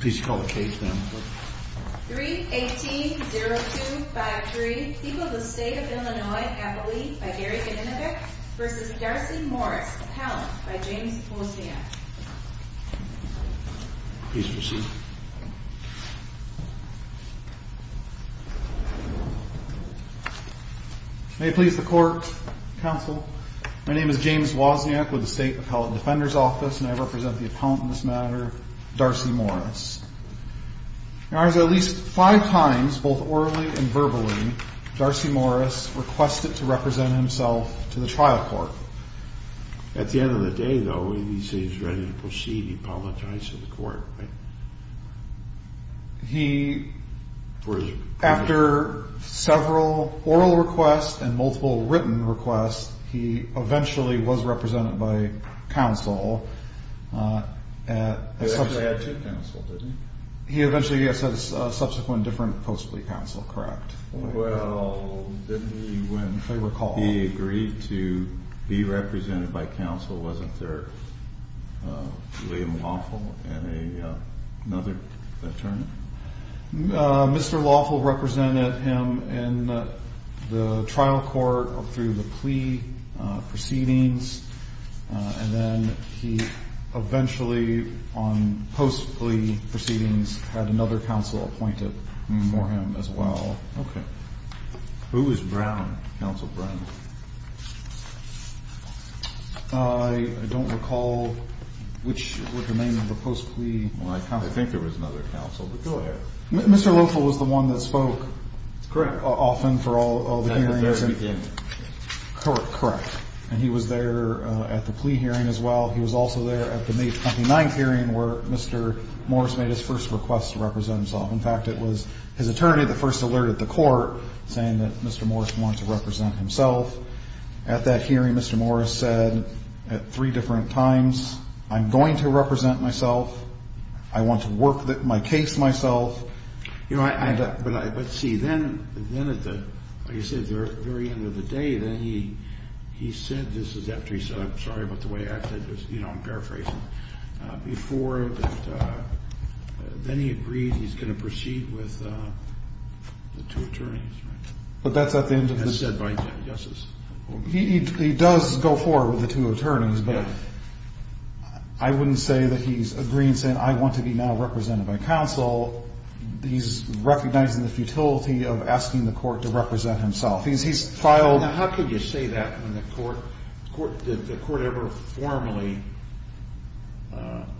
Please call the case then. 3-18-0253, people of the state of Illinois, Appalachia, by Gary Ganinovich v. Darcy Morris, Appellant, by James Wozniak. Please proceed. May it please the court, counsel, my name is James Wozniak with the State Appellant Defender's Office and I represent the appellant in this matter, Darcy Morris. Now as of at least five times, both orally and verbally, Darcy Morris requested to represent himself to the trial court. At the end of the day though, when he said he was ready to proceed, he apologized to the court, right? He, after several oral requests and multiple written requests, he eventually was represented by counsel at a subsequent... He eventually had two counsel, didn't he? He eventually, yes, had a subsequent different post-plea counsel, correct? Well, didn't he when he agreed to be represented by counsel, wasn't there William Lawful and another attorney? Mr. Lawful represented him in the trial court through the plea proceedings and then he eventually on post-plea proceedings had another counsel appointed for him as well. Okay. Who was Brown, counsel Brown? I don't recall which was the name of the post-plea counsel. I think there was another counsel, but go ahead. Mr. Lawful was the one that spoke often for all the hearings. Correct. And he was there at the plea hearing as well. He was also there at the May 29th hearing where Mr. Morris made his first request to represent himself. In fact, it was his attorney that first alerted the court saying that Mr. Morris wanted to represent himself. At that hearing, Mr. Morris said at three different times, I'm going to represent myself. I want to work my case myself. You know, but see, then at the, like you said, at the very end of the day, then he said, this is after he said, I'm sorry about the way I said this, you know, I'm paraphrasing, before that then he agreed he's going to proceed with the two attorneys, right? But that's at the end of the day. As said by justices. He does go forward with the two attorneys, but I wouldn't say that he's agreeing, saying I want to be now represented by counsel. He's recognizing the futility of asking the court to represent himself. He's filed. Now, how could you say that when the court, the court ever formally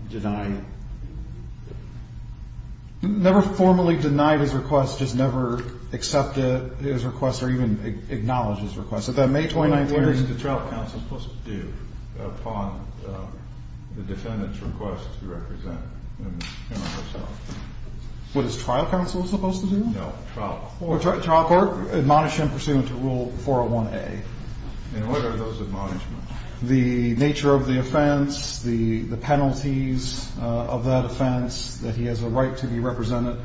denied? Never formally denied his request, just never accepted his request or even acknowledged his request. So that May 29th hearing. What is the trial counsel supposed to do upon the defendant's request to represent himself? What is trial counsel supposed to do? No trial or trial court admonish him pursuant to rule 401A. And what are those admonishments? The nature of the offense, the penalties of that offense, that he has a right to be represented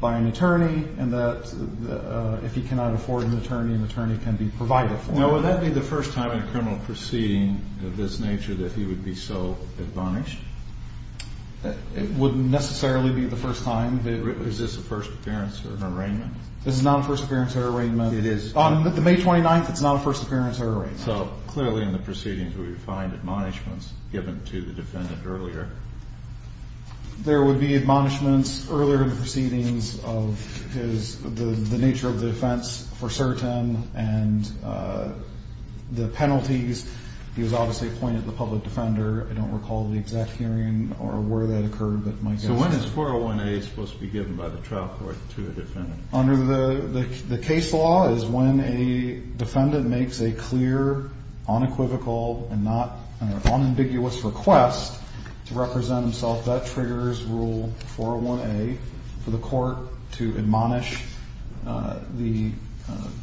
by an attorney and that if he cannot afford an attorney, an attorney can be provided for. Now, would that be the first time in a criminal proceeding of this nature that he would be so admonished? It wouldn't necessarily be the first time. Is this a first appearance or arraignment? This is not a first appearance or arraignment. It is. On the May 29th, it's not a first appearance or arraignment. So clearly in the proceedings we would find admonishments given to the defendant earlier. There would be admonishments earlier in the proceedings of his, the nature of the offense for certain and the penalties. He was obviously appointed the public defender. I don't recall the exact hearing or where that occurred, but my guess is. So when is 401A supposed to be given by the trial court to the defendant? Under the case law is when a defendant makes a clear, unequivocal and not unambiguous request to represent himself. That triggers rule 401A for the court to admonish the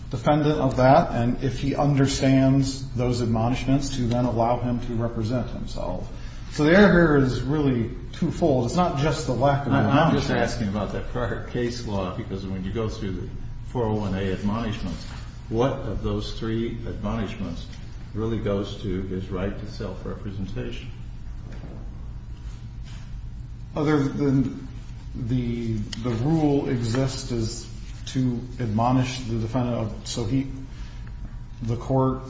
defendant of that. And if he understands those admonishments to then allow him to represent himself. So the error here is really twofold. It's not just the lack of. I'm just asking about that prior case law, because when you go through the 401A admonishments, what of those three admonishments really goes to his right to self-representation? Other than the rule exists to admonish the defendant so the court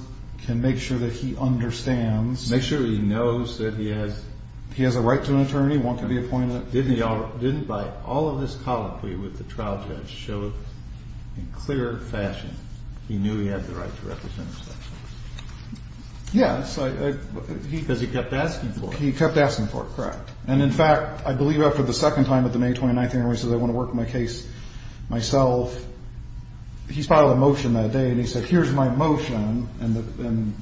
can make sure that he understands. Make sure he knows that he has a right to an attorney, one can be appointed. Didn't by all of this colloquy with the trial judge show in clear fashion he knew he had the right to represent himself? Yes. Because he kept asking for it. He kept asking for it. Correct. And in fact, I believe after the second time at the May 29th hearing where he said I want to work my case myself, he filed a motion that day. And he said here's my motion. And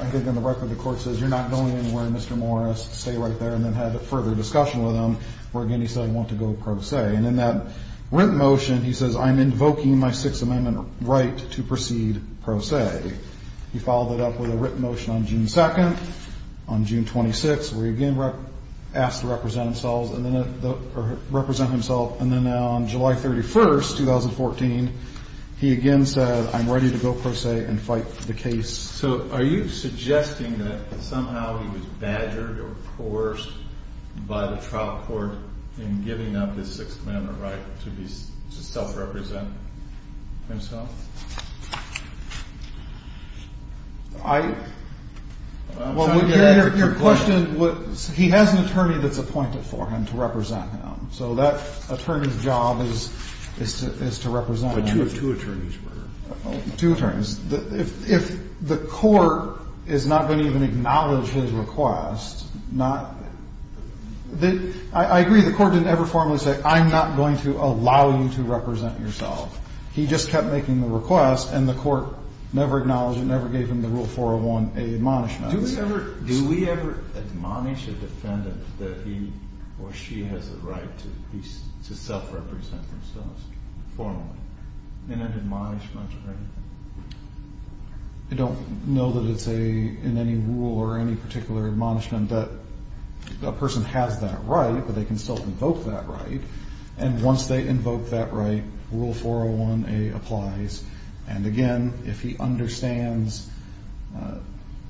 I think on the record the court says you're not going anywhere, Mr. Morris. Stay right there. And then had further discussion with him where again he said I want to go pro se. And in that written motion he says I'm invoking my Sixth Amendment right to proceed pro se. He followed it up with a written motion on June 2nd, on June 26th, where he again asked to represent himself and then on July 31st, 2014, he again said I'm ready to go pro se and fight the case. So are you suggesting that somehow he was badgered or coerced by the trial court in giving up his Sixth Amendment right to self-represent himself? Your question, he has an attorney that's appointed for him to represent him. So that attorney's job is to represent him. Two attorneys. If the court is not going to even acknowledge his request, I agree the court didn't ever formally say I'm not going to allow you to represent yourself. He just kept making the request and the court never acknowledged it, never gave him the Rule 401A admonishment. Do we ever admonish a defendant that he or she has the right to self-represent themselves formally in an admonishment or anything? I don't know that it's in any rule or any particular admonishment that a person has that right, but they can still invoke that right. And once they invoke that right, Rule 401A applies. And again, if he understands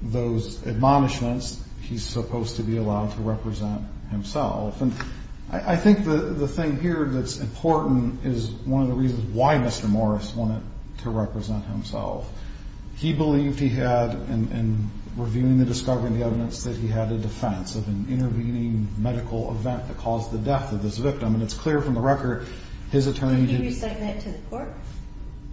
those admonishments, he's supposed to be allowed to represent himself. I think the thing here that's important is one of the reasons why Mr. Morris wanted to represent himself. He believed he had, in reviewing the discovery and the evidence, that he had a defense of an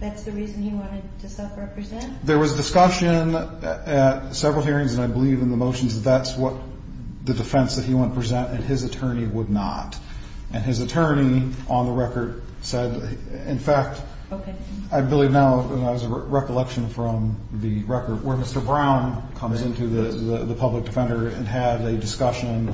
that's the reason he wanted to self-represent? There was discussion at several hearings, and I believe in the motions, that that's what the defense that he wanted to present, and his attorney would not. And his attorney, on the record, said, in fact, I believe now, as a recollection from the record, where Mr. Brown comes into the public defender and had a discussion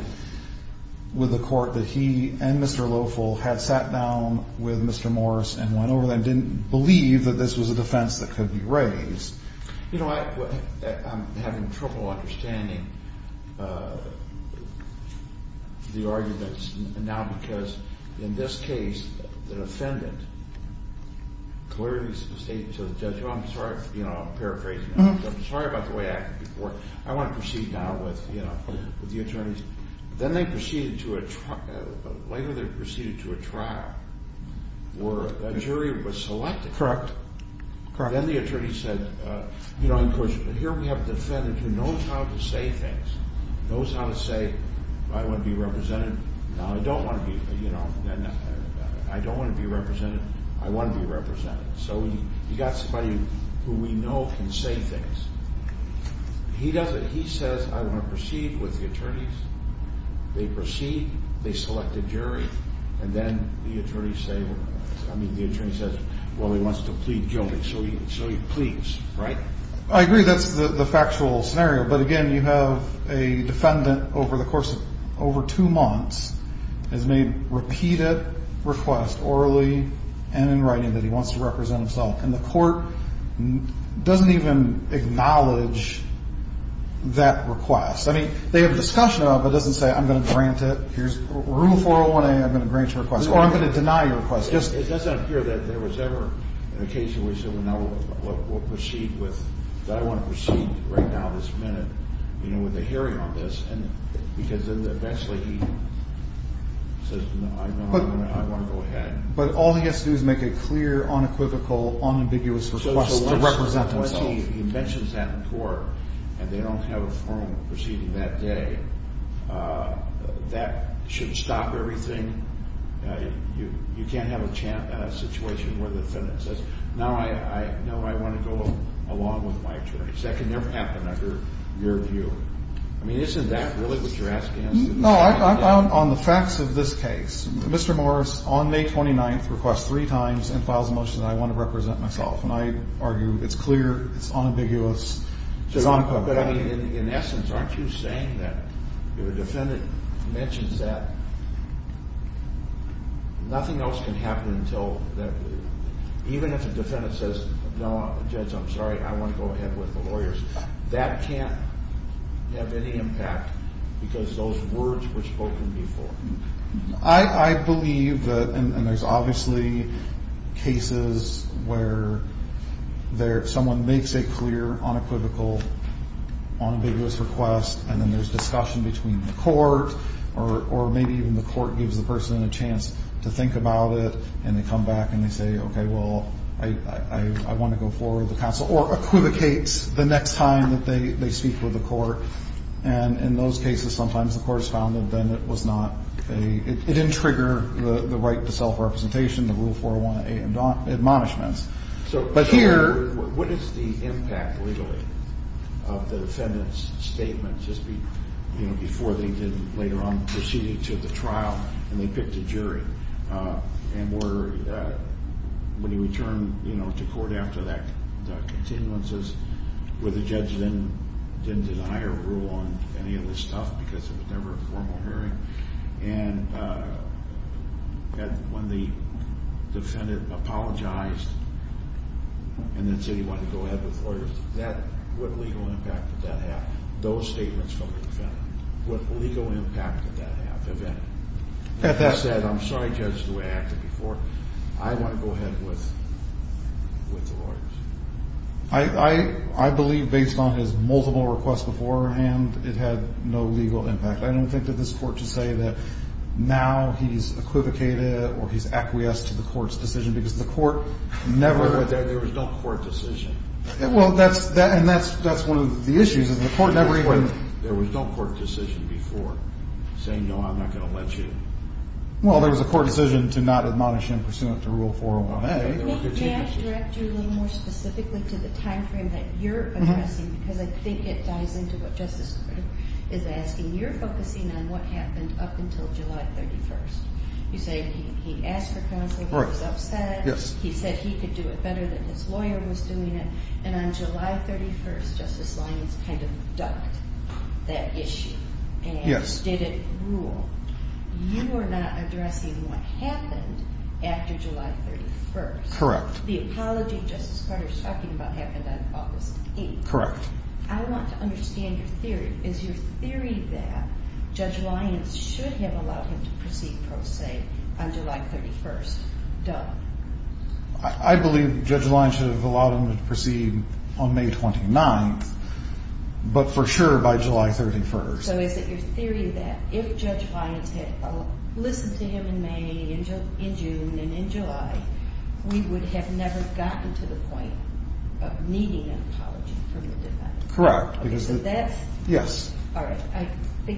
with the court that he and Mr. Loeffel had sat down with Mr. Morris and went over them, didn't believe that this was a defense that could be raised. You know, I'm having trouble understanding the arguments now, because in this case, the defendant clearly stated to the judge, well, I'm sorry, you know, I'm paraphrasing. I'm sorry about the way I acted before. I want to proceed now with the attorneys. Then they proceeded to a trial, where a jury was selected. Then the attorney said, here we have a defendant who knows how to say things. Knows how to say, I want to be represented. I don't want to be, you know, I don't want to be represented. I want to be represented. So you've got somebody who we know can say things. He says, I want to proceed with the attorneys. They proceed. They select a jury. And then the attorney says, well, he wants to plead guilty. So he pleads, right? I agree. That's the factual scenario. But again, you have a defendant over the course of over two months has made repeated requests orally and in writing that he wants to represent himself. And the court doesn't even acknowledge that request. I mean, they have a discussion about it, but it doesn't say, I'm going to grant it. Here's rule 401A. I'm going to grant your request. Or I'm going to deny your request. It doesn't appear that there was ever an occasion where he said, well, now we'll proceed with, that I want to proceed right now, this minute, you know, with a hearing on this. And because then eventually he says, no, I want to go ahead. But all he has to do is make a clear, unequivocal, unambiguous request to represent himself. When he mentions that in court and they don't have a forum proceeding that day, that should stop everything. You can't have a situation where the defendant says, now I know I want to go along with my attorneys. That can never happen under your view. I mean, isn't that really what you're asking? On the facts of this case, Mr. Morris, on May 29th, requests three times and files a motion that I want to represent myself. And I argue it's clear, it's unambiguous. But in essence, aren't you saying that if a defendant mentions that, nothing else can happen until, even if a defendant says, no, Judge, I'm sorry, I want to go ahead with the lawyers. That can't have any impact because those words were spoken before. I believe that, and there's obviously cases where someone makes a clear, unequivocal, unambiguous request. And then there's discussion between the court or maybe even the court gives the person a chance to think about it. And they come back and they say, okay, well, I want to go forward with the counsel or equivocates the next time that they speak with the court. And in those cases, sometimes the court has found that then it was not a, it didn't trigger the right to self-representation, the Rule 401 admonishments. But here, what is the impact legally of the defendant's statement just before they did later on proceeded to the trial and they picked a jury? And when you return to court after that continuance, where the judge didn't deny or rule on any of this stuff because it was never a formal hearing, and when the defendant apologized and then said he wanted to go ahead with lawyers, what legal impact did that have, those statements from the defendant? What legal impact did that have? I believe based on his multiple requests beforehand, it had no legal impact. I don't think that this court should say that now he's equivocated or he's acquiesced to the court's decision because the court never. There was no court decision. Well, that's one of the issues. There was no court decision before saying, no, I'm not going to let you. Well, there was a court decision to not admonish him pursuant to Rule 401A. I think it ties into what Justice Kruger is asking. You're focusing on what happened up until July 31st. You say he asked for counsel, he was upset, he said he could do it better than his lawyer was doing it, and on July 31st Justice Lyons kind of ducked that issue and just didn't rule. You are not addressing what happened after July 31st. The apology Justice Carter is talking about happened on August 8th. I want to understand your theory. Is your theory that Judge Lyons should have allowed him to proceed pro se on July 31st? I believe Judge Lyons should have allowed him to proceed on May 29th, but for sure by July 31st. So is it your theory that if Judge Lyons had listened to him in May, in June, and in July, we would have never gotten to the point of needing an apology from the defense? Correct.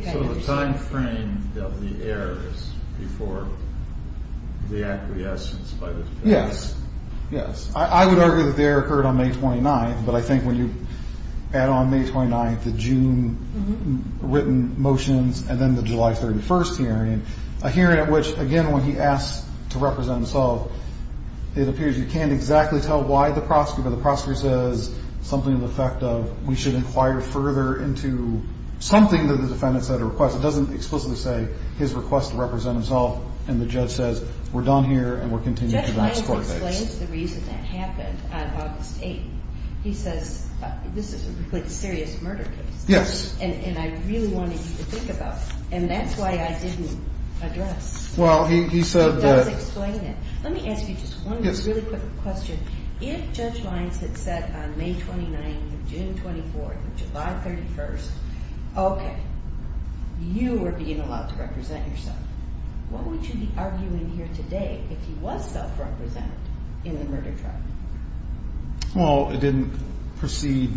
So the time frame of the error is before the acquiescence by the defense? Yes. I would argue that the error occurred on May 29th, but I think when you add on May 29th, the June written motions, and then the July 31st hearing, a hearing at which, again, when he asks to represent himself, it appears you can't exactly tell why the prosecutor, but the prosecutor says something to the effect of, we should inquire further into something that the defendant said or requested. It doesn't explicitly say his request to represent himself, and the judge says, we're done here and we're continuing to the next court date. When he explains the reason that happened on August 8th, he says, this is a serious murder case, and I really want you to think about it, and that's why I didn't address it. Let me ask you just one really quick question. If Judge Lyons had said on May 29th or June 24th or July 31st, okay, you were being allowed to represent yourself, what would you be arguing here today if he was self-represented in the murder trial? Well, it didn't proceed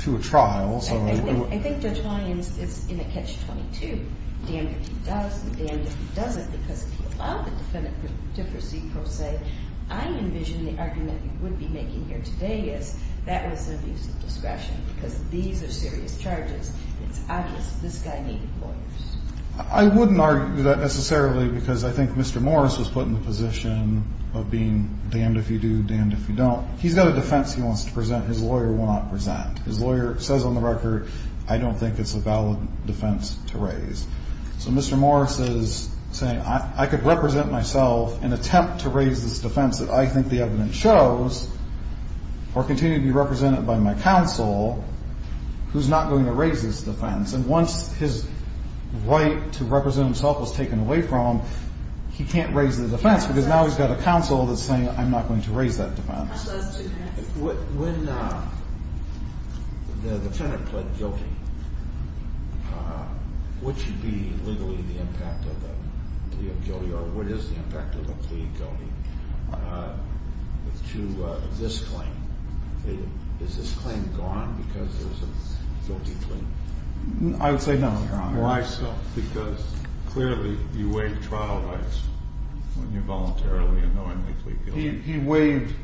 to a trial. I think Judge Lyons is in a catch-22, damned if he does and damned if he doesn't, because if he allowed the defendant to proceed, per se, I envision the argument you would be making here today is that was an abuse of discretion because these are serious charges. It's obvious this guy needed lawyers. I wouldn't argue that necessarily because I think Mr. Morris was put in the position of being damned if you do, damned if you don't. He's got a defense he wants to present. His lawyer will not present. His lawyer says on the record, I don't think it's a valid defense to raise. So Mr. Morris is saying, I could represent myself and attempt to raise this defense that I think the evidence shows or continue to be represented by my counsel who's not going to raise this defense. And once his right to represent himself was taken away from him, he can't raise the defense because now he's got a counsel that's saying, I'm not going to raise that defense. When the defendant pled guilty, what should be legally the impact of the plea of guilty or what is the impact of the plea of guilty to this claim? Is this claim gone because there's a guilty claim? I would say no, Your Honor. Why so? Because clearly you waived trial rights when you voluntarily and knowingly plead guilty. He waived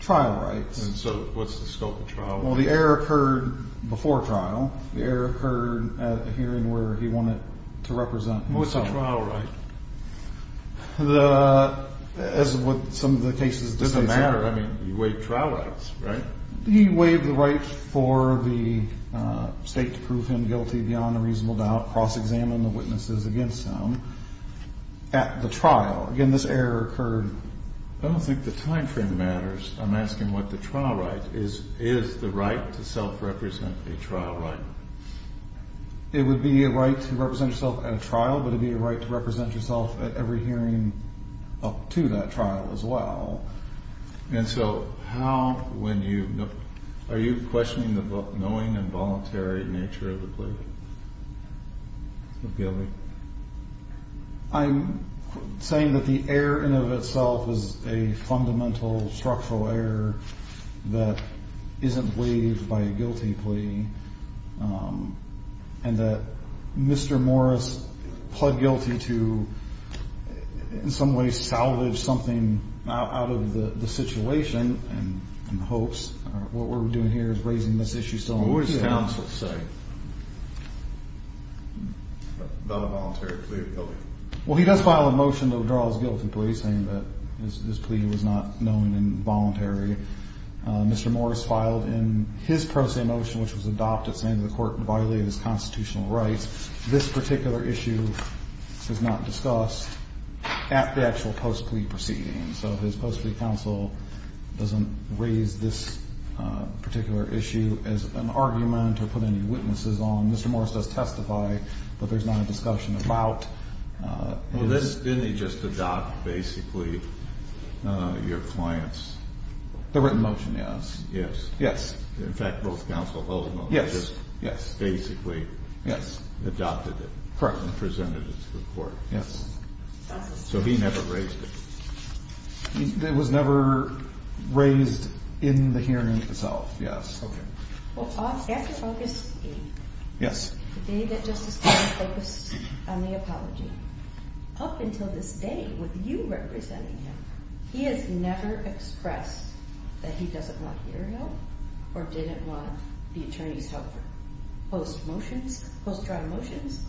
trial rights. And so what's the scope of trial rights? Well, the error occurred before trial. The error occurred at a hearing where he wanted to represent himself. What's a trial right? As with some of the cases. It doesn't matter. I mean, you waived trial rights, right? He waived the right for the state to prove him guilty beyond a reasonable doubt, cross-examine the witnesses against him at the trial. Again, this error occurred. I don't think the time frame matters. I'm asking what the trial right is. Is the right to self-represent a trial right? It would be a right to represent yourself at a trial, but it would be a right to represent yourself at every hearing up to that trial as well. And so how, when you, are you questioning the knowing and voluntary nature of the plea of guilty? I'm saying that the error in and of itself is a fundamental structural error that isn't waived by a guilty plea, and that Mr. Morris pled guilty to, in some ways, salvage something out of the situation and hopes. What we're doing here is raising this issue. What would his counsel say about a voluntary plea of guilty? Well, he does file a motion to withdraw his guilty plea, saying that this plea was not known and involuntary. Mr. Morris filed in his pro se motion, which was adopted, saying the court violated his constitutional rights. This particular issue is not discussed at the actual post-plea proceeding. So his post-plea counsel doesn't raise this particular issue as an argument or put any witnesses on. Mr. Morris does testify, but there's not a discussion about his. Didn't he just adopt, basically, your client's? The written motion, yes. Yes. Yes. In fact, both counsel held the motion. Yes. Yes. Basically. Yes. Adopted it. Correct. And presented it to the court. Yes. So he never raised it. It was never raised in the hearing itself. Yes. Okay. Well, after August 8th. Yes. The day that Justice Kagan focused on the apology, up until this day, with you representing him, he has never expressed that he doesn't want your help or didn't want the attorney's help. Post motions, post-trial motions,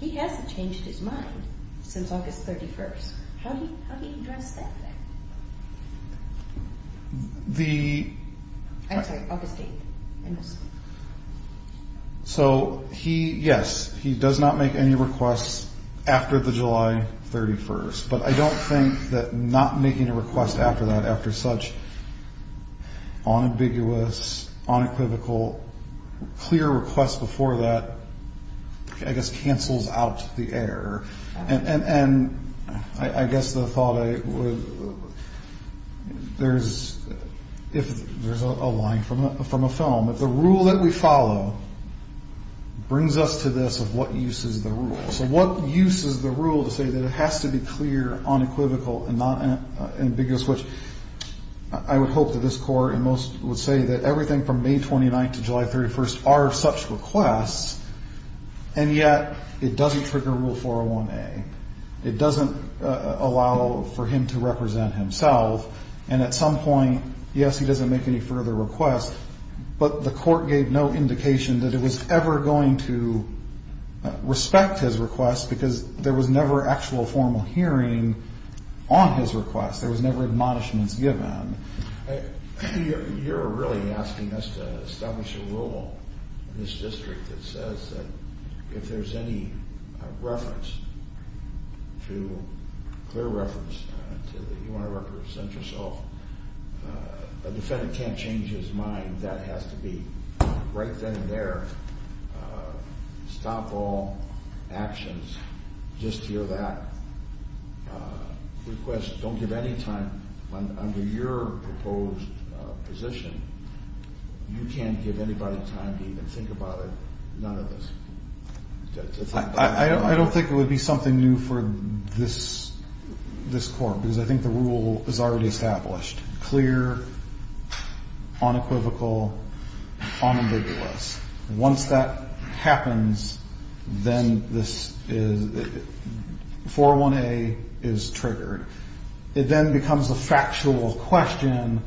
he hasn't changed his mind since August 31st. How do you address that? I'm sorry, August 8th. So, yes, he does not make any requests after the July 31st. But I don't think that not making a request after that, after such unambiguous, unequivocal, clear requests before that, I guess, cancels out the error. And I guess the thought I would, there's a line from a film. If the rule that we follow brings us to this of what use is the rule. So what use is the rule to say that it has to be clear, unequivocal, and not ambiguous, which I would hope that this court and most would say that everything from May 29th to July 31st are such requests, and yet it doesn't trigger Rule 401A. It doesn't allow for him to represent himself. And at some point, yes, he doesn't make any further requests, but the court gave no indication that it was ever going to respect his request because there was never actual formal hearing on his request. There was never admonishments given. You're really asking us to establish a rule in this district that says that if there's any reference to, clear reference to that you want to represent yourself, a defendant can't change his mind. That has to be right then and there. Stop all actions. Just hear that request. Don't give any time under your proposed position. You can't give anybody time to even think about it, none of this. I don't think it would be something new for this court because I think the rule is already established. Once that happens, then this is, 401A is triggered. It then becomes a factual question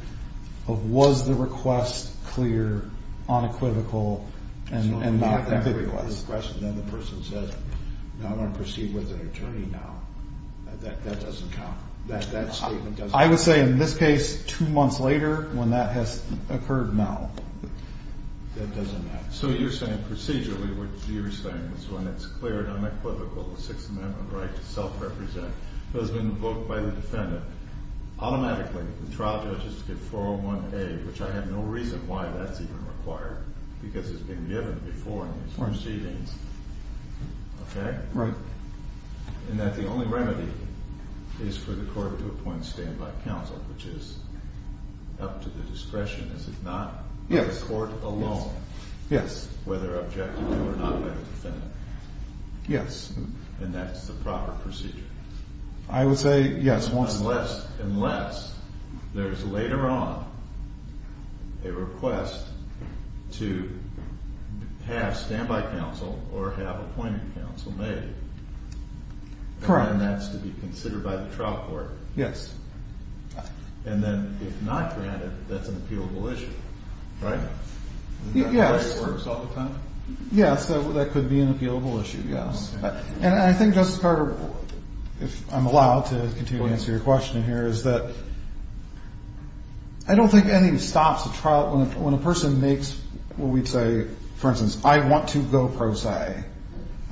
of was the request clear, unequivocal, and not a good request. So when you have that request, then the person says, no, I'm going to proceed with an attorney now. That doesn't count. That statement doesn't count. I would say in this case, two months later when that has occurred, no. That doesn't count. So you're saying procedurally what you're saying is when it's clear and unequivocal, the Sixth Amendment right to self-represent has been invoked by the defendant, automatically the trial judges get 401A, which I have no reason why that's even required because it's been given before in these proceedings. Okay? Right. And that the only remedy is for the court to appoint stand-by counsel, which is up to the discretion. Is it not? Yes. The court alone? Yes. Whether objective or not by the defendant? Yes. And that's the proper procedure? I would say, yes. Unless there's later on a request to have stand-by counsel or have appointing counsel made. Correct. And that's to be considered by the trial court? Yes. And then if not granted, that's an appealable issue, right? Yes. Is that the way it works all the time? Yes. That could be an appealable issue, yes. And I think, Justice Carter, if I'm allowed to continue to answer your question here, is that I don't think any stops a trial when a person makes what we'd say, for instance, I want to go pro se.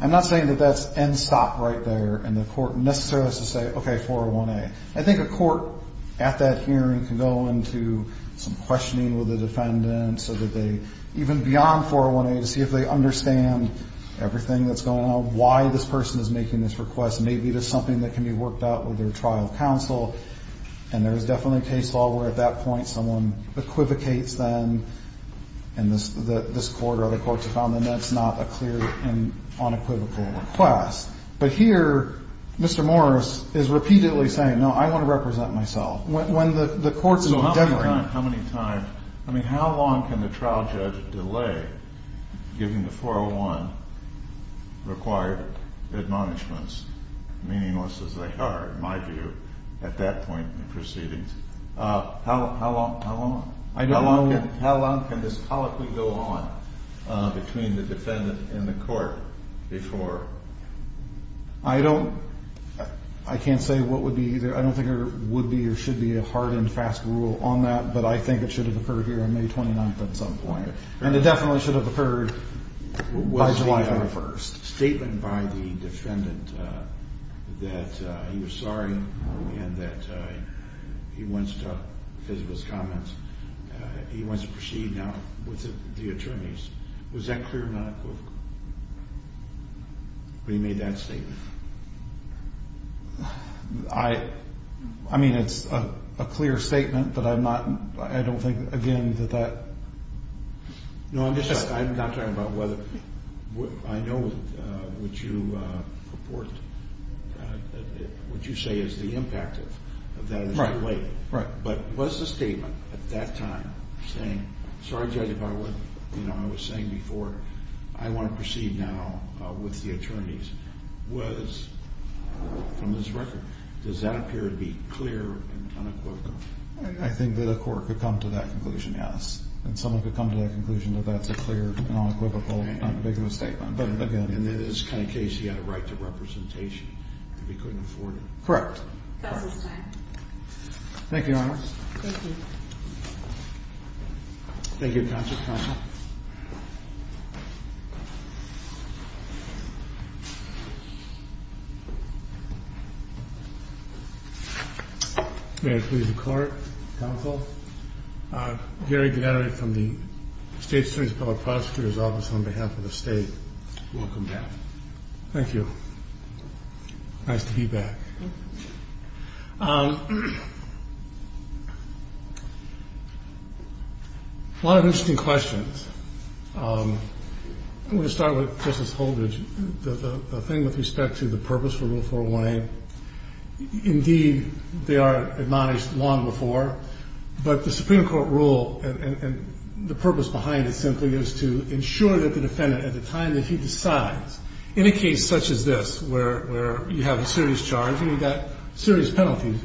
I'm not saying that that's end stop right there and the court necessarily has to say, okay, 401A. I think a court at that hearing can go into some questioning with the defendant so that they, even beyond 401A, to see if they understand everything that's going on, why this person is making this request. Maybe there's something that can be worked out with their trial counsel, and there's definitely a case law where at that point someone equivocates them and this court or other courts have found that that's not a clear and unequivocal request. But here, Mr. Morris is repeatedly saying, no, I want to represent myself. When the court is endeavoring. So how many times, I mean, how long can the trial judge delay, given the 401 required admonishments, meaningless as they are, in my view, at that point in proceedings? How long, how long? I don't know. Between the defendant and the court before. I don't, I can't say what would be either. I don't think there would be or should be a hard and fast rule on that. But I think it should have occurred here on May 29th at some point. And it definitely should have occurred by July 1st. Was the statement by the defendant that he was sorry and that he wants to, because of his comments, he wants to proceed now with the attorneys. Was that clear or not? When he made that statement. I, I mean, it's a clear statement, but I'm not, I don't think, again, that that. No, I'm just, I'm not talking about whether, I know what you purport, what you say is the impact of that delay. Right. But was the statement at that time saying, sorry, Judge, if I would, you know, I was saying before, I want to proceed now with the attorneys. Was, from his record, does that appear to be clear and unequivocal? I think that a court could come to that conclusion, yes. And someone could come to that conclusion that that's a clear and unequivocal statement. But again, in this kind of case, he had a right to representation if he couldn't afford it. Correct. Counsel's time. Thank you, Your Honor. Thank you. Thank you, Counsel. May I please the Court, Counsel. Gary Gennari from the State Supreme Court Prosecutor's Office on behalf of the State. Welcome back. Thank you. Nice to be back. Thank you. A lot of interesting questions. I'm going to start with Justice Holdridge. The thing with respect to the purpose for Rule 401A, indeed, they are admonished long before. But the Supreme Court rule and the purpose behind it simply is to ensure that the defendant, at the time that he decides, in a case such as this where you have a serious charge and you've got serious penalties,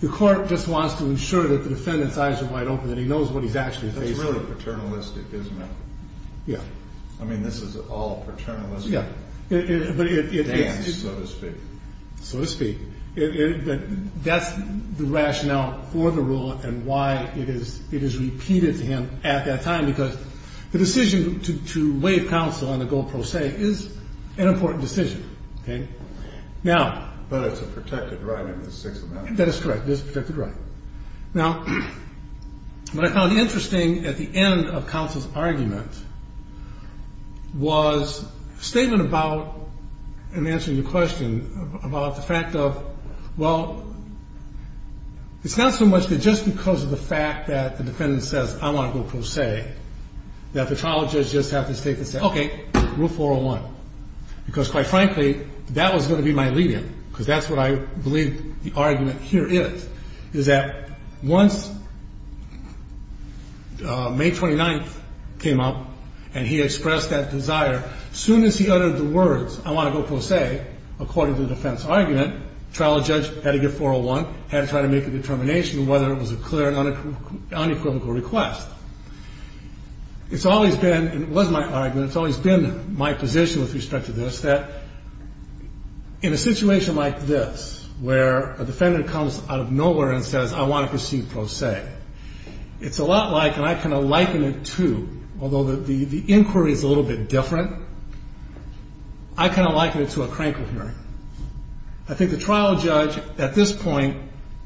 the court just wants to ensure that the defendant's eyes are wide open and he knows what he's actually facing. That's really paternalistic, isn't it? Yeah. I mean, this is all paternalistic. Yeah. So to speak. So to speak. That's the rationale for the rule and why it is repeated to him at that time, because the decision to waive counsel on the goal pro se is an important decision. Okay? Now... But it's a protected right in the Sixth Amendment. That is correct. It is a protected right. Now, what I found interesting at the end of counsel's argument was a statement about, in answering your question, about the fact of, well, it's not so much that just because of the fact that the defendant says, I want to go pro se, that the trial judge just has to state and say, okay, rule 401, because quite frankly, that was going to be my alleviant, because that's what I believe the argument here is, is that once May 29th came up and he expressed that desire, as soon as he uttered the words, I want to go pro se, according to the defense argument, the trial judge had to get 401, had to try to make a determination whether it was a clear and unequivocal request. It's always been, and it was my argument, it's always been my position with respect to this, that in a situation like this, where a defendant comes out of nowhere and says, I want to proceed pro se, it's a lot like, and I kind of liken it to, although the inquiry is a little bit different, I kind of liken it to a crankle hearing. I think the trial judge at this point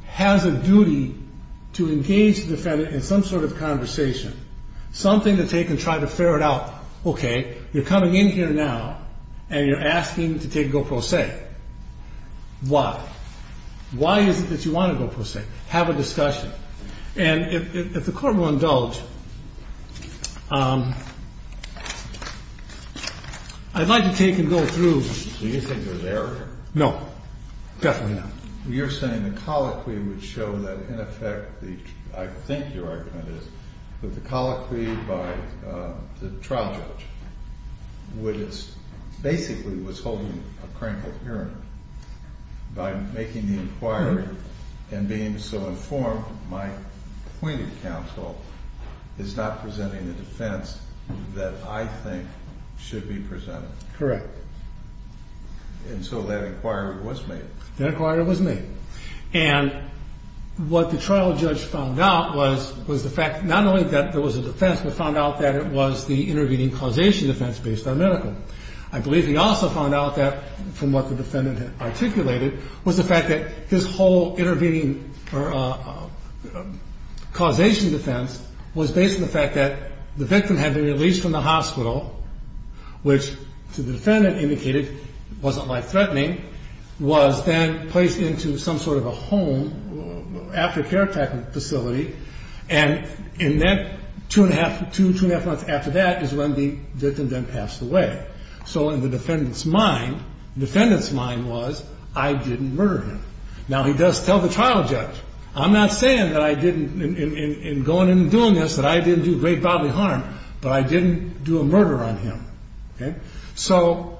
has a duty to engage the defendant in some sort of conversation, something to take and try to ferret out, okay, you're coming in here now and you're asking to take a go pro se. Why? Why is it that you want to go pro se? Have a discussion. And if the court will indulge, I'd like to take and go through. Do you think there's error here? No, definitely not. You're saying the colloquy would show that in effect, I think your argument is, that the colloquy by the trial judge basically was holding a crankled hearing. By making the inquiry and being so informed, my appointed counsel is not presenting the defense that I think should be presented. Correct. And so that inquiry was made. The inquiry was made. And what the trial judge found out was the fact not only that there was a defense, but found out that it was the intervening causation defense based on medical. I believe he also found out that, from what the defendant articulated, was the fact that his whole intervening causation defense was based on the fact that the victim had been released from the hospital, which the defendant indicated wasn't life threatening, was then placed into some sort of a home, after-care type of facility. And two and a half months after that is when the victim then passed away. So in the defendant's mind, the defendant's mind was, I didn't murder him. Now, he does tell the trial judge, I'm not saying that I didn't, in going and doing this, that I didn't do great bodily harm, but I didn't do a murder on him. So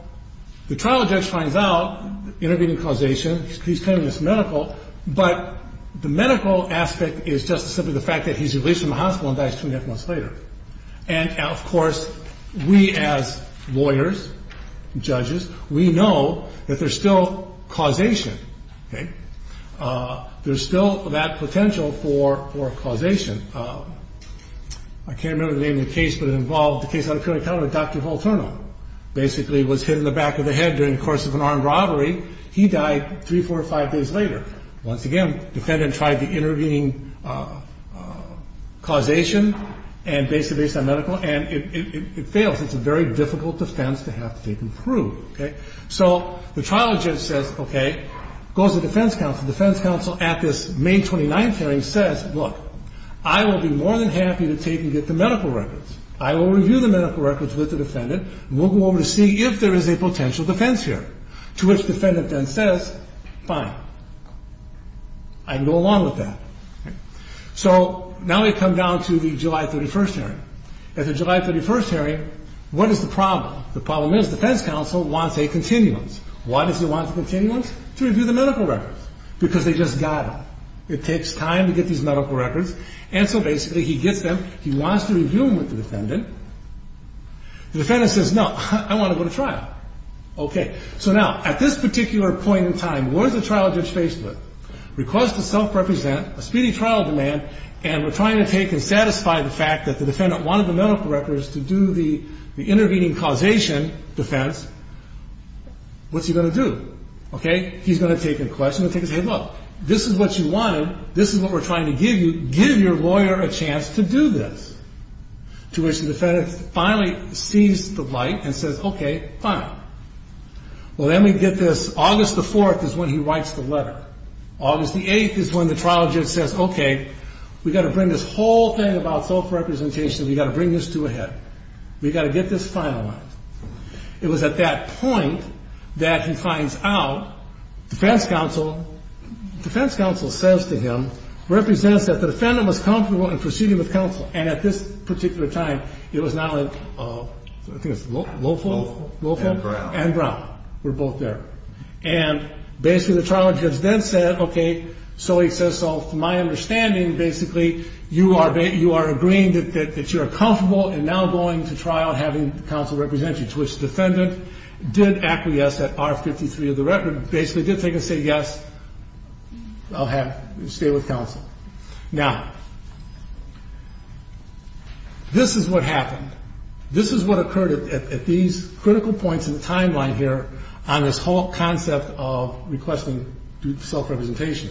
the trial judge finds out intervening causation, he's claiming it's medical, but the medical aspect is just simply the fact that he's released from the hospital and dies two and a half months later. And, of course, we as lawyers, judges, we know that there's still causation. There's still that potential for causation. I can't remember the name of the case, but it involved the case of Dr. Volterno, basically was hit in the back of the head during the course of an armed robbery. He died three, four, five days later. Once again, the defendant tried the intervening causation, and basically based on medical, and it fails. It's a very difficult defense to have to take and prove. So the trial judge says, okay, goes to the defense counsel. The defense counsel at this May 29 hearing says, look, I will be more than happy to take and get the medical records. I will review the medical records with the defendant, and we'll go over to see if there is a potential defense hearing, to which the defendant then says, fine, I can go along with that. So now we come down to the July 31 hearing. At the July 31 hearing, what is the problem? The problem is the defense counsel wants a continuance. Why does he want a continuance? To review the medical records, because they just got them. It takes time to get these medical records. And so basically he gets them. He wants to review them with the defendant. The defendant says, no, I want to go to trial. Okay. So now at this particular point in time, what is the trial judge faced with? Request to self-represent, a speedy trial demand, and we're trying to take and satisfy the fact that the defendant wanted the medical records to do the intervening causation defense. What's he going to do? Okay. He's going to take a question. He's going to take a say, look, this is what you wanted. This is what we're trying to give you. Give your lawyer a chance to do this. To which the defendant finally sees the light and says, okay, fine. Well, then we get this. August the 4th is when he writes the letter. August the 8th is when the trial judge says, okay, we've got to bring this whole thing about self-representation, we've got to bring this to a head. We've got to get this finalized. It was at that point that he finds out defense counsel, defense counsel says to him, represents that the defendant was comfortable in proceeding with counsel. And at this particular time, it was now in, I think it was Lofo? And Brown. And Brown. We're both there. And basically the trial judge then said, okay, so he says, so my understanding basically you are agreeing that you are comfortable in now going to trial and having counsel represent you. To which the defendant did acquiesce at R53 of the record, basically did say yes, I'll stay with counsel. Now, this is what happened. This is what occurred at these critical points in the timeline here on this whole concept of requesting self-representation.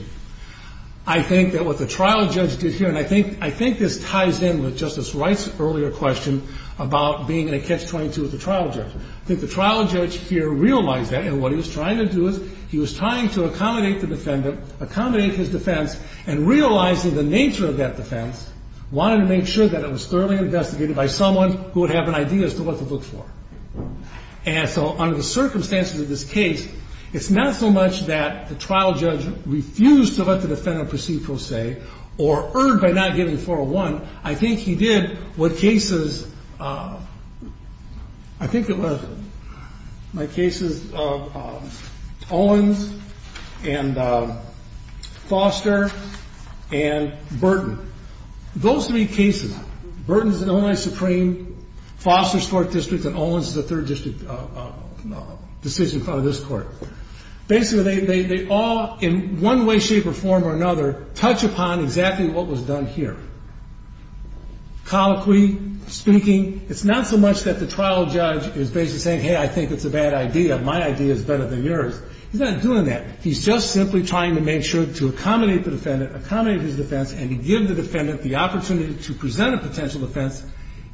I think that what the trial judge did here, and I think this ties in with Justice Wright's earlier question about being in a catch-22 with the trial judge. I think the trial judge here realized that, and what he was trying to do is he was trying to accommodate the defendant, accommodate his defense, and realizing the nature of that defense, wanted to make sure that it was thoroughly investigated by someone who would have an idea as to what to look for. And so under the circumstances of this case, it's not so much that the trial judge refused to let the defendant proceed or erred by not giving 401. I think he did what cases, I think it was, my cases of Owens and Foster and Burton. Those three cases, Burton's in Illinois Supreme, Foster's 4th District, and Owens is a 3rd District decision in front of this Court. Basically, they all, in one way, shape, or form or another, touch upon exactly what was done here. Colloquially speaking, it's not so much that the trial judge is basically saying, hey, I think it's a bad idea, my idea is better than yours. He's not doing that. He's just simply trying to make sure to accommodate the defendant, accommodate his defense, and give the defendant the opportunity to present a potential defense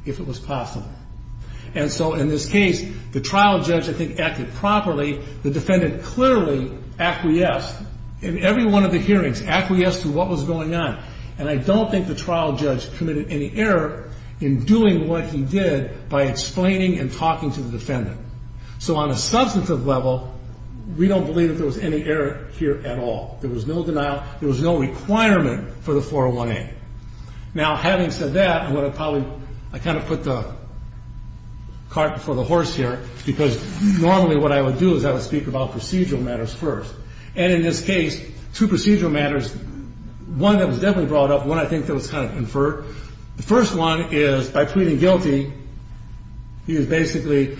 if it was possible. And so in this case, the trial judge, I think, acted properly. The defendant clearly acquiesced in every one of the hearings, acquiesced to what was going on. And I don't think the trial judge committed any error in doing what he did by explaining and talking to the defendant. So on a substantive level, we don't believe that there was any error here at all. There was no denial. There was no requirement for the 401A. Now, having said that, I'm going to probably, I kind of put the cart before the horse here, because normally what I would do is I would speak about procedural matters first. And in this case, two procedural matters, one that was definitely brought up, one I think that was kind of inferred. The first one is by pleading guilty, he was basically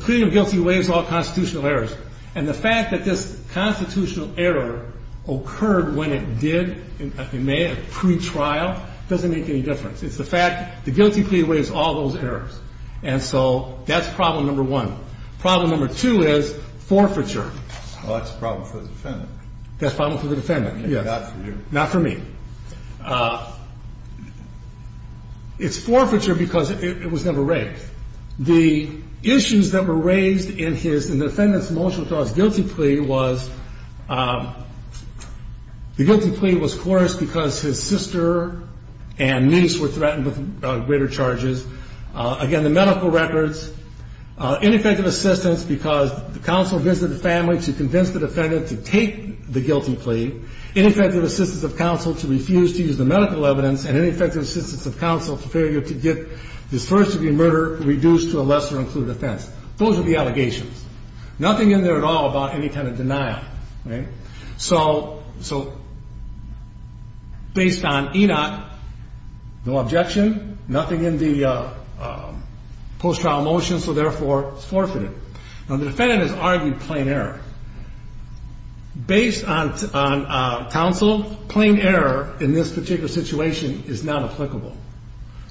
pleading guilty waives all constitutional errors. And the fact that this constitutional error occurred when it did, in May, at a pre-trial, doesn't make any difference. It's the fact the guilty plea waives all those errors. And so that's problem number one. Problem number two is forfeiture. Well, that's a problem for the defendant. That's a problem for the defendant, yes. Not for you. Not for me. It's forfeiture because it was never raised. The issues that were raised in his, in the defendant's motion to cause guilty plea was the guilty plea was forced because his sister and niece were threatened with greater charges Again, the medical records, ineffective assistance because the counsel visited the family to convince the defendant to take the guilty plea, ineffective assistance of counsel to refuse to use the medical evidence, and ineffective assistance of counsel to failure to get this first-degree murder reduced to a lesser-included offense. Those are the allegations. Nothing in there at all about any kind of denial. So based on ENOT, no objection, nothing in the post-trial motion, so therefore it's forfeited. Now, the defendant has argued plain error. Based on counsel, plain error in this particular situation is not applicable.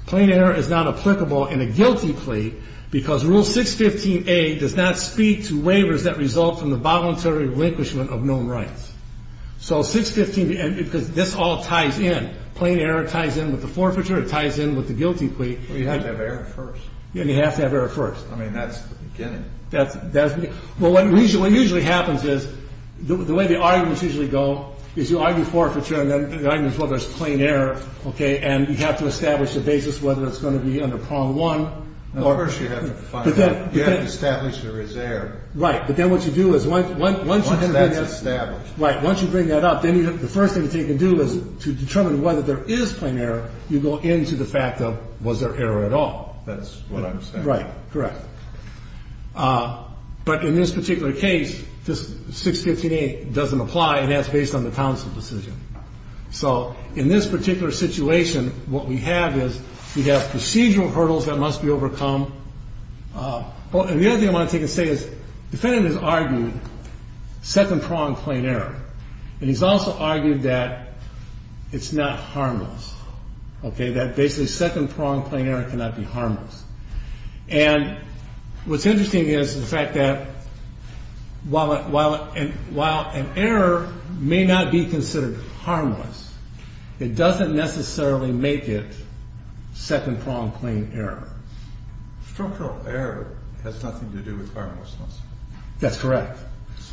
Plain error is not applicable in a guilty plea because Rule 615A does not speak to waivers that result from the voluntary relinquishment of known rights. So 615, because this all ties in. Plain error ties in with the forfeiture. It ties in with the guilty plea. But you have to have error first. And you have to have error first. I mean, that's the beginning. Well, what usually happens is the way the arguments usually go is you argue forfeiture and then the argument is whether it's plain error, okay, and you have to establish a basis whether it's going to be under Prong 1. Of course you have to find out. You have to establish there is error. Right. But then what you do is once you bring that up. Once that's established. Right. Once you bring that up, then the first thing to do is to determine whether there is plain error, you go into the fact of was there error at all. That's what I'm saying. Right. Correct. But in this particular case, this 615A doesn't apply, and that's based on the counsel decision. So in this particular situation, what we have is we have procedural hurdles that must be overcome. And the other thing I want to take and say is the defendant has argued second-pronged plain error, and he's also argued that it's not harmless, okay, that basically second-pronged plain error cannot be harmless. And what's interesting is the fact that while an error may not be considered structural error has nothing to do with harmlessness. That's correct.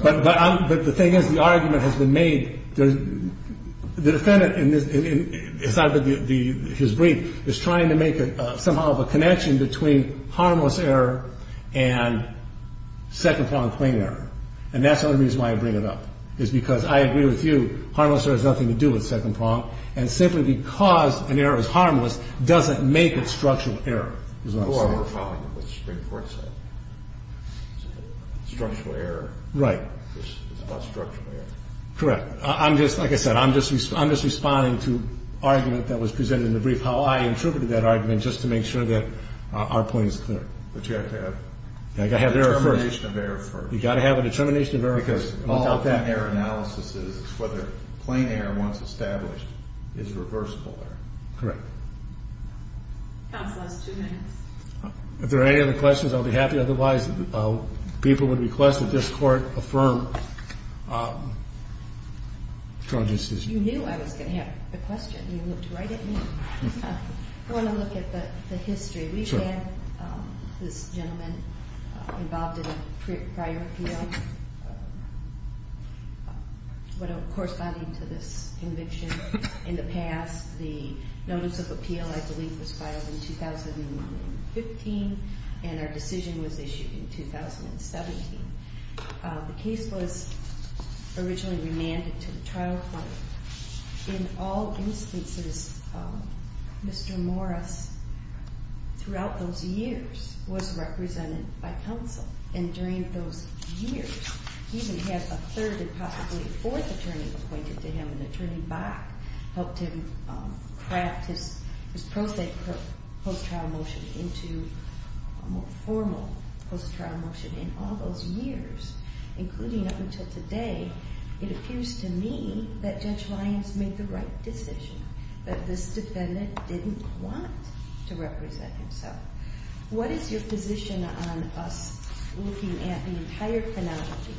But the thing is the argument has been made. The defendant in his brief is trying to make somehow of a connection between harmless error and second-pronged plain error. And that's the only reason why I bring it up is because I agree with you, harmless error has nothing to do with second-pronged, and simply because an error is harmless doesn't make it structural error is what I'm saying. Or we're following what the Supreme Court said. Structural error is not structural error. Correct. Like I said, I'm just responding to an argument that was presented in the brief, how I interpreted that argument just to make sure that our point is clear. But you have to have a determination of error first. You've got to have a determination of error first. Because all of that error analysis is whether plain error, once established, is reversible error. Correct. Counsel has two minutes. If there are any other questions, I'll be happy. Otherwise, people would request that this Court affirm charges. You knew I was going to have a question. You looked right at me. I want to look at the history. We've had this gentleman involved in a prior appeal. Corresponding to this conviction, in the past, the notice of appeal, I believe, was filed in 2015, and our decision was issued in 2017. The case was originally remanded to the trial court. In all instances, Mr. Morris, throughout those years, was represented by counsel. And during those years, he even had a third and possibly a fourth attorney appointed to him. And Attorney Bach helped him craft his post-trial motion into a more formal post-trial motion. In all those years, including up until today, it appears to me that Judge Lyons made the right decision, that this defendant didn't want to represent himself. What is your position on us looking at the entire phonology,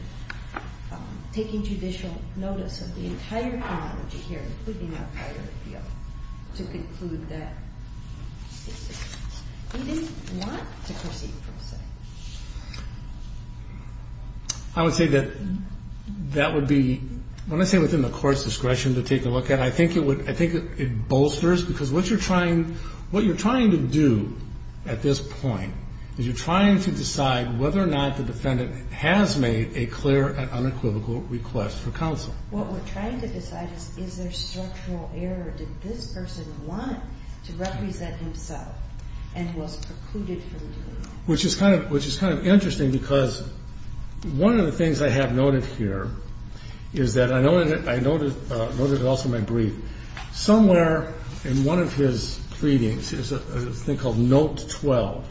taking judicial notice of the entire phonology here, including our prior appeal, to conclude that he didn't want to proceed pro se? I would say that that would be, when I say within the Court's discretion to take a look at, I think it bolsters, because what you're trying to do at this point is you're trying to decide whether or not the defendant has made a clear and unequivocal request for counsel. What we're trying to decide is, is there structural error? Did this person want to represent himself and was precluded from doing it? Which is kind of interesting, because one of the things I have noted here is that I noted also in my brief, somewhere in one of his pleadings is a thing called Note 12,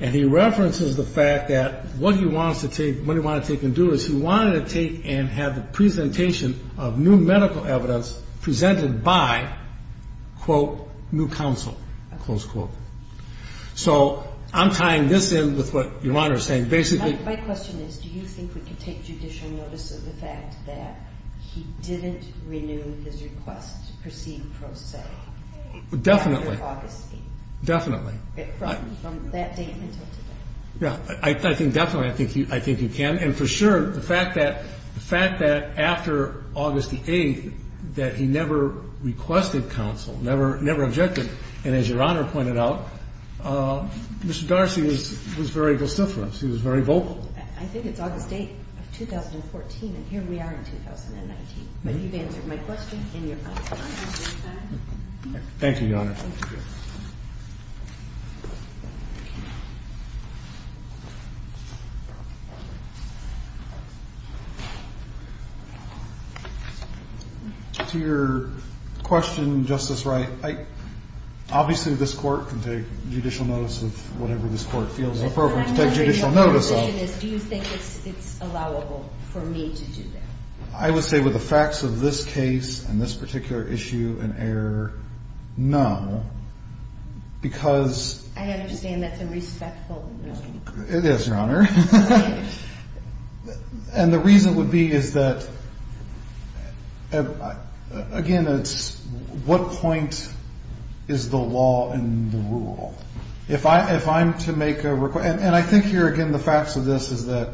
and he references the fact that what he wanted to take and do is he wanted to take and have the presentation of new medical evidence presented by, quote, new counsel, close quote. So I'm tying this in with what Your Honor is saying. My question is, do you think we can take judicial notice of the fact that he didn't renew his request to proceed pro se? Definitely. After August 8th. Definitely. From that date until today. Yeah. I think definitely I think you can. And for sure, the fact that after August the 8th that he never requested counsel, never objected, and as Your Honor pointed out, Mr. Darcy was very vociferous. He was very vocal. I think it's August 8th of 2014, and here we are in 2019. But you've answered my question and your question. Thank you, Your Honor. Thank you. To your question, Justice Wright, obviously this Court can take judicial notice of whatever this Court feels appropriate to take judicial notice of. My question is, do you think it's allowable for me to do that? I would say with the facts of this case and this particular issue and error, no. Because – I understand that's a respectful no. It is, Your Honor. And the reason would be is that, again, it's what point is the law in the rule? If I'm to make a request – and I think here, again, the facts of this is that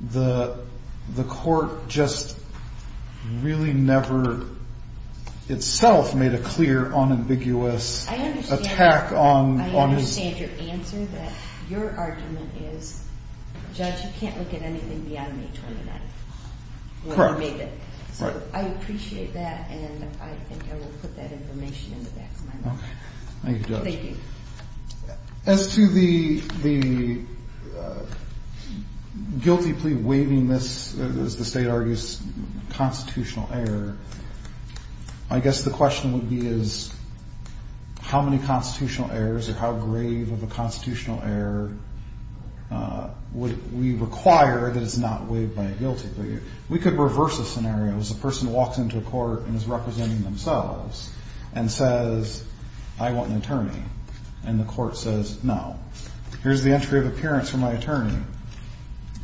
the Court just really never itself made a clear unambiguous attack on – I understand your answer, that your argument is, Judge, you can't look at anything beyond May 29th when you make it. Correct. So I appreciate that, and I think I will put that information in the back of my mind. Thank you, Judge. Thank you. As to the guilty plea waiving this, as the State argues, constitutional error, I guess the question would be is how many constitutional errors or how grave of a constitutional error would we require that it's not waived by a guilty plea? We could reverse the scenario. Suppose a person walks into a court and is representing themselves and says, I want an attorney, and the court says, no. Here's the entry of appearance for my attorney.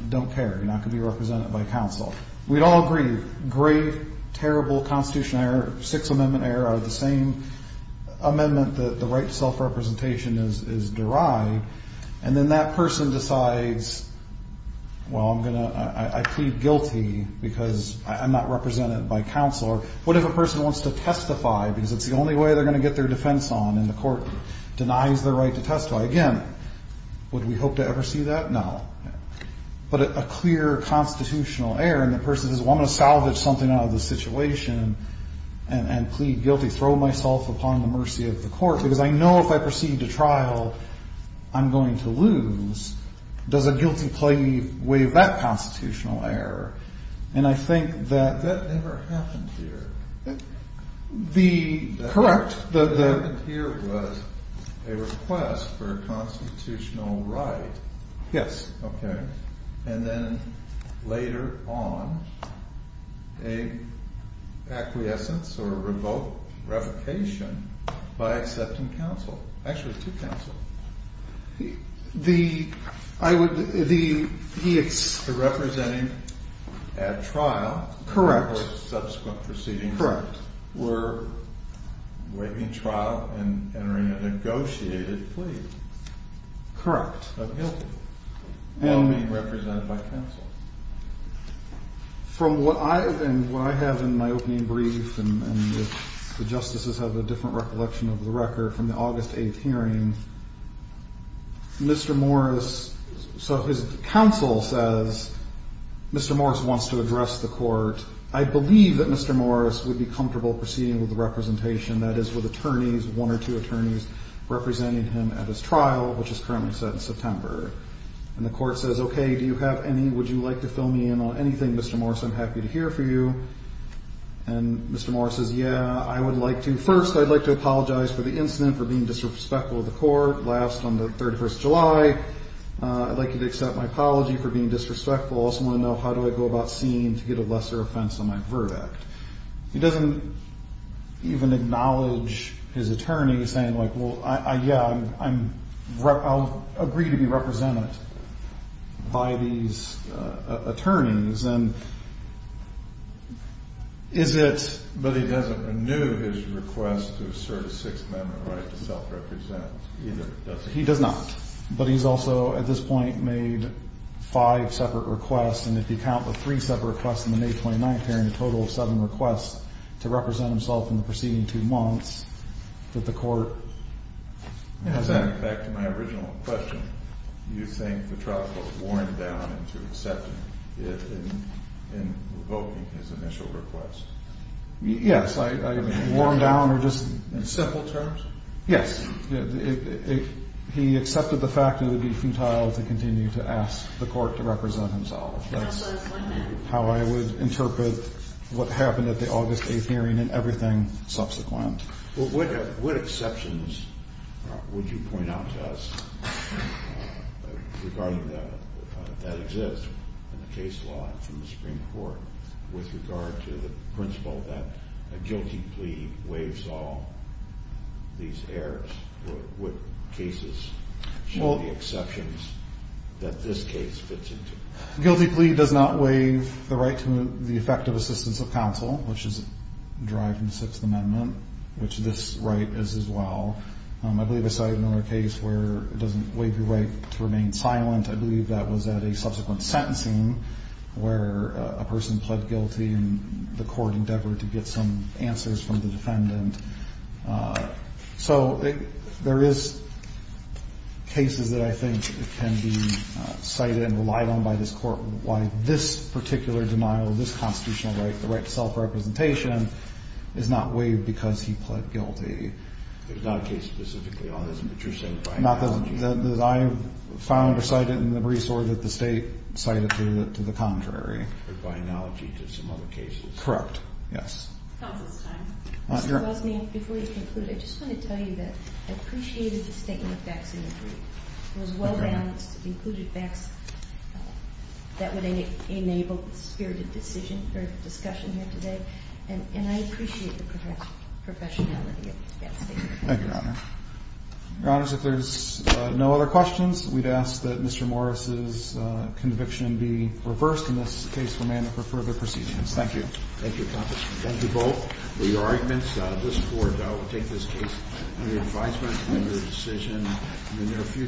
Don't care. You're not going to be represented by counsel. We'd all agree, grave, terrible constitutional error, Sixth Amendment error out of the same amendment that the right to self-representation is derived, and then that person decides, well, I plead guilty because I'm not represented by counsel. What if a person wants to testify because it's the only way they're going to get their defense on and the court denies their right to testify? Again, would we hope to ever see that? No. But a clear constitutional error and the person says, well, I'm going to salvage something out of this situation and plead guilty, throw myself upon the mercy of the court, because I know if I proceed to trial, I'm going to lose. Does a guilty plea waive that constitutional error? And I think that that never happened here. Correct. That never happened here was a request for a constitutional right. Yes. Okay. And then later on, an acquiescence or revocation by accepting counsel. Actually, to counsel. The representing at trial. Correct. Subsequent proceedings. Correct. Were waiving trial and entering a negotiated plea. Correct. And being represented by counsel. From what I have in my opening brief, and the justices have a different recollection of the record, from the August 8th hearing, Mr. Morris, so his counsel says Mr. Morris wants to address the court. I believe that Mr. Morris would be comfortable proceeding with the representation, that is with attorneys, one or two attorneys, representing him at his trial, which is currently set in September. And the court says, okay, do you have any, would you like to fill me in on anything, Mr. Morris? I'm happy to hear from you. And Mr. Morris says, yeah, I would like to. First, I'd like to apologize for the incident, for being disrespectful of the court. Last, on the 31st of July, I'd like you to accept my apology for being disrespectful. I also want to know how do I go about seeing to get a lesser offense on my verdict. He doesn't even acknowledge his attorney, saying like, well, yeah, I'll agree to be represented by these attorneys. And is it? But he doesn't renew his request to assert a Sixth Amendment right to self-represent either, does he? He does not. But he's also, at this point, made five separate requests. And if you count the three separate requests in the May 29th hearing, a total of seven requests to represent himself in the preceding two months, that the court has that. Back to my original question. Do you think the trial court warmed down into accepting it in revoking his initial request? Yes. I mean, warmed down or just? In simple terms? Yes. He accepted the fact it would be futile to continue to ask the court to represent himself. That's how I would interpret what happened at the August 8th hearing and everything subsequent. What exceptions would you point out to us regarding that that exists in the case law from the Supreme Court with regard to the principle that a guilty plea waives all these errors? What cases show the exceptions that this case fits into? Guilty plea does not waive the right to the effective assistance of counsel, which is derived from the Sixth Amendment, which this right is as well. I believe I cited another case where it doesn't waive your right to remain silent. I believe that was at a subsequent sentencing where a person pled guilty and the court endeavored to get some answers from the defendant. So there is cases that I think can be cited and relied on by this court why this particular denial of this constitutional right, the right to self-representation, is not waived because he pled guilty. There's not a case specifically on this, but you're saying by analogy? Not that I found or cited in the briefs or that the State cited to the contrary. But by analogy to some other cases? Correct, yes. Counsel's time. Mr. Wilson, before you conclude, I just want to tell you that I appreciated the statement of facts in the brief. It was well-balanced. It included facts that would enable spirited decision or discussion here today. And I appreciate the professionality of that statement. Thank you, Your Honor. Your Honors, if there's no other questions, we'd ask that Mr. Morris's conviction be reversed in this case for further proceedings. Thank you. Thank you, counsel. Thank you both for your arguments. This court will take this case under advisement, under decision in the near future.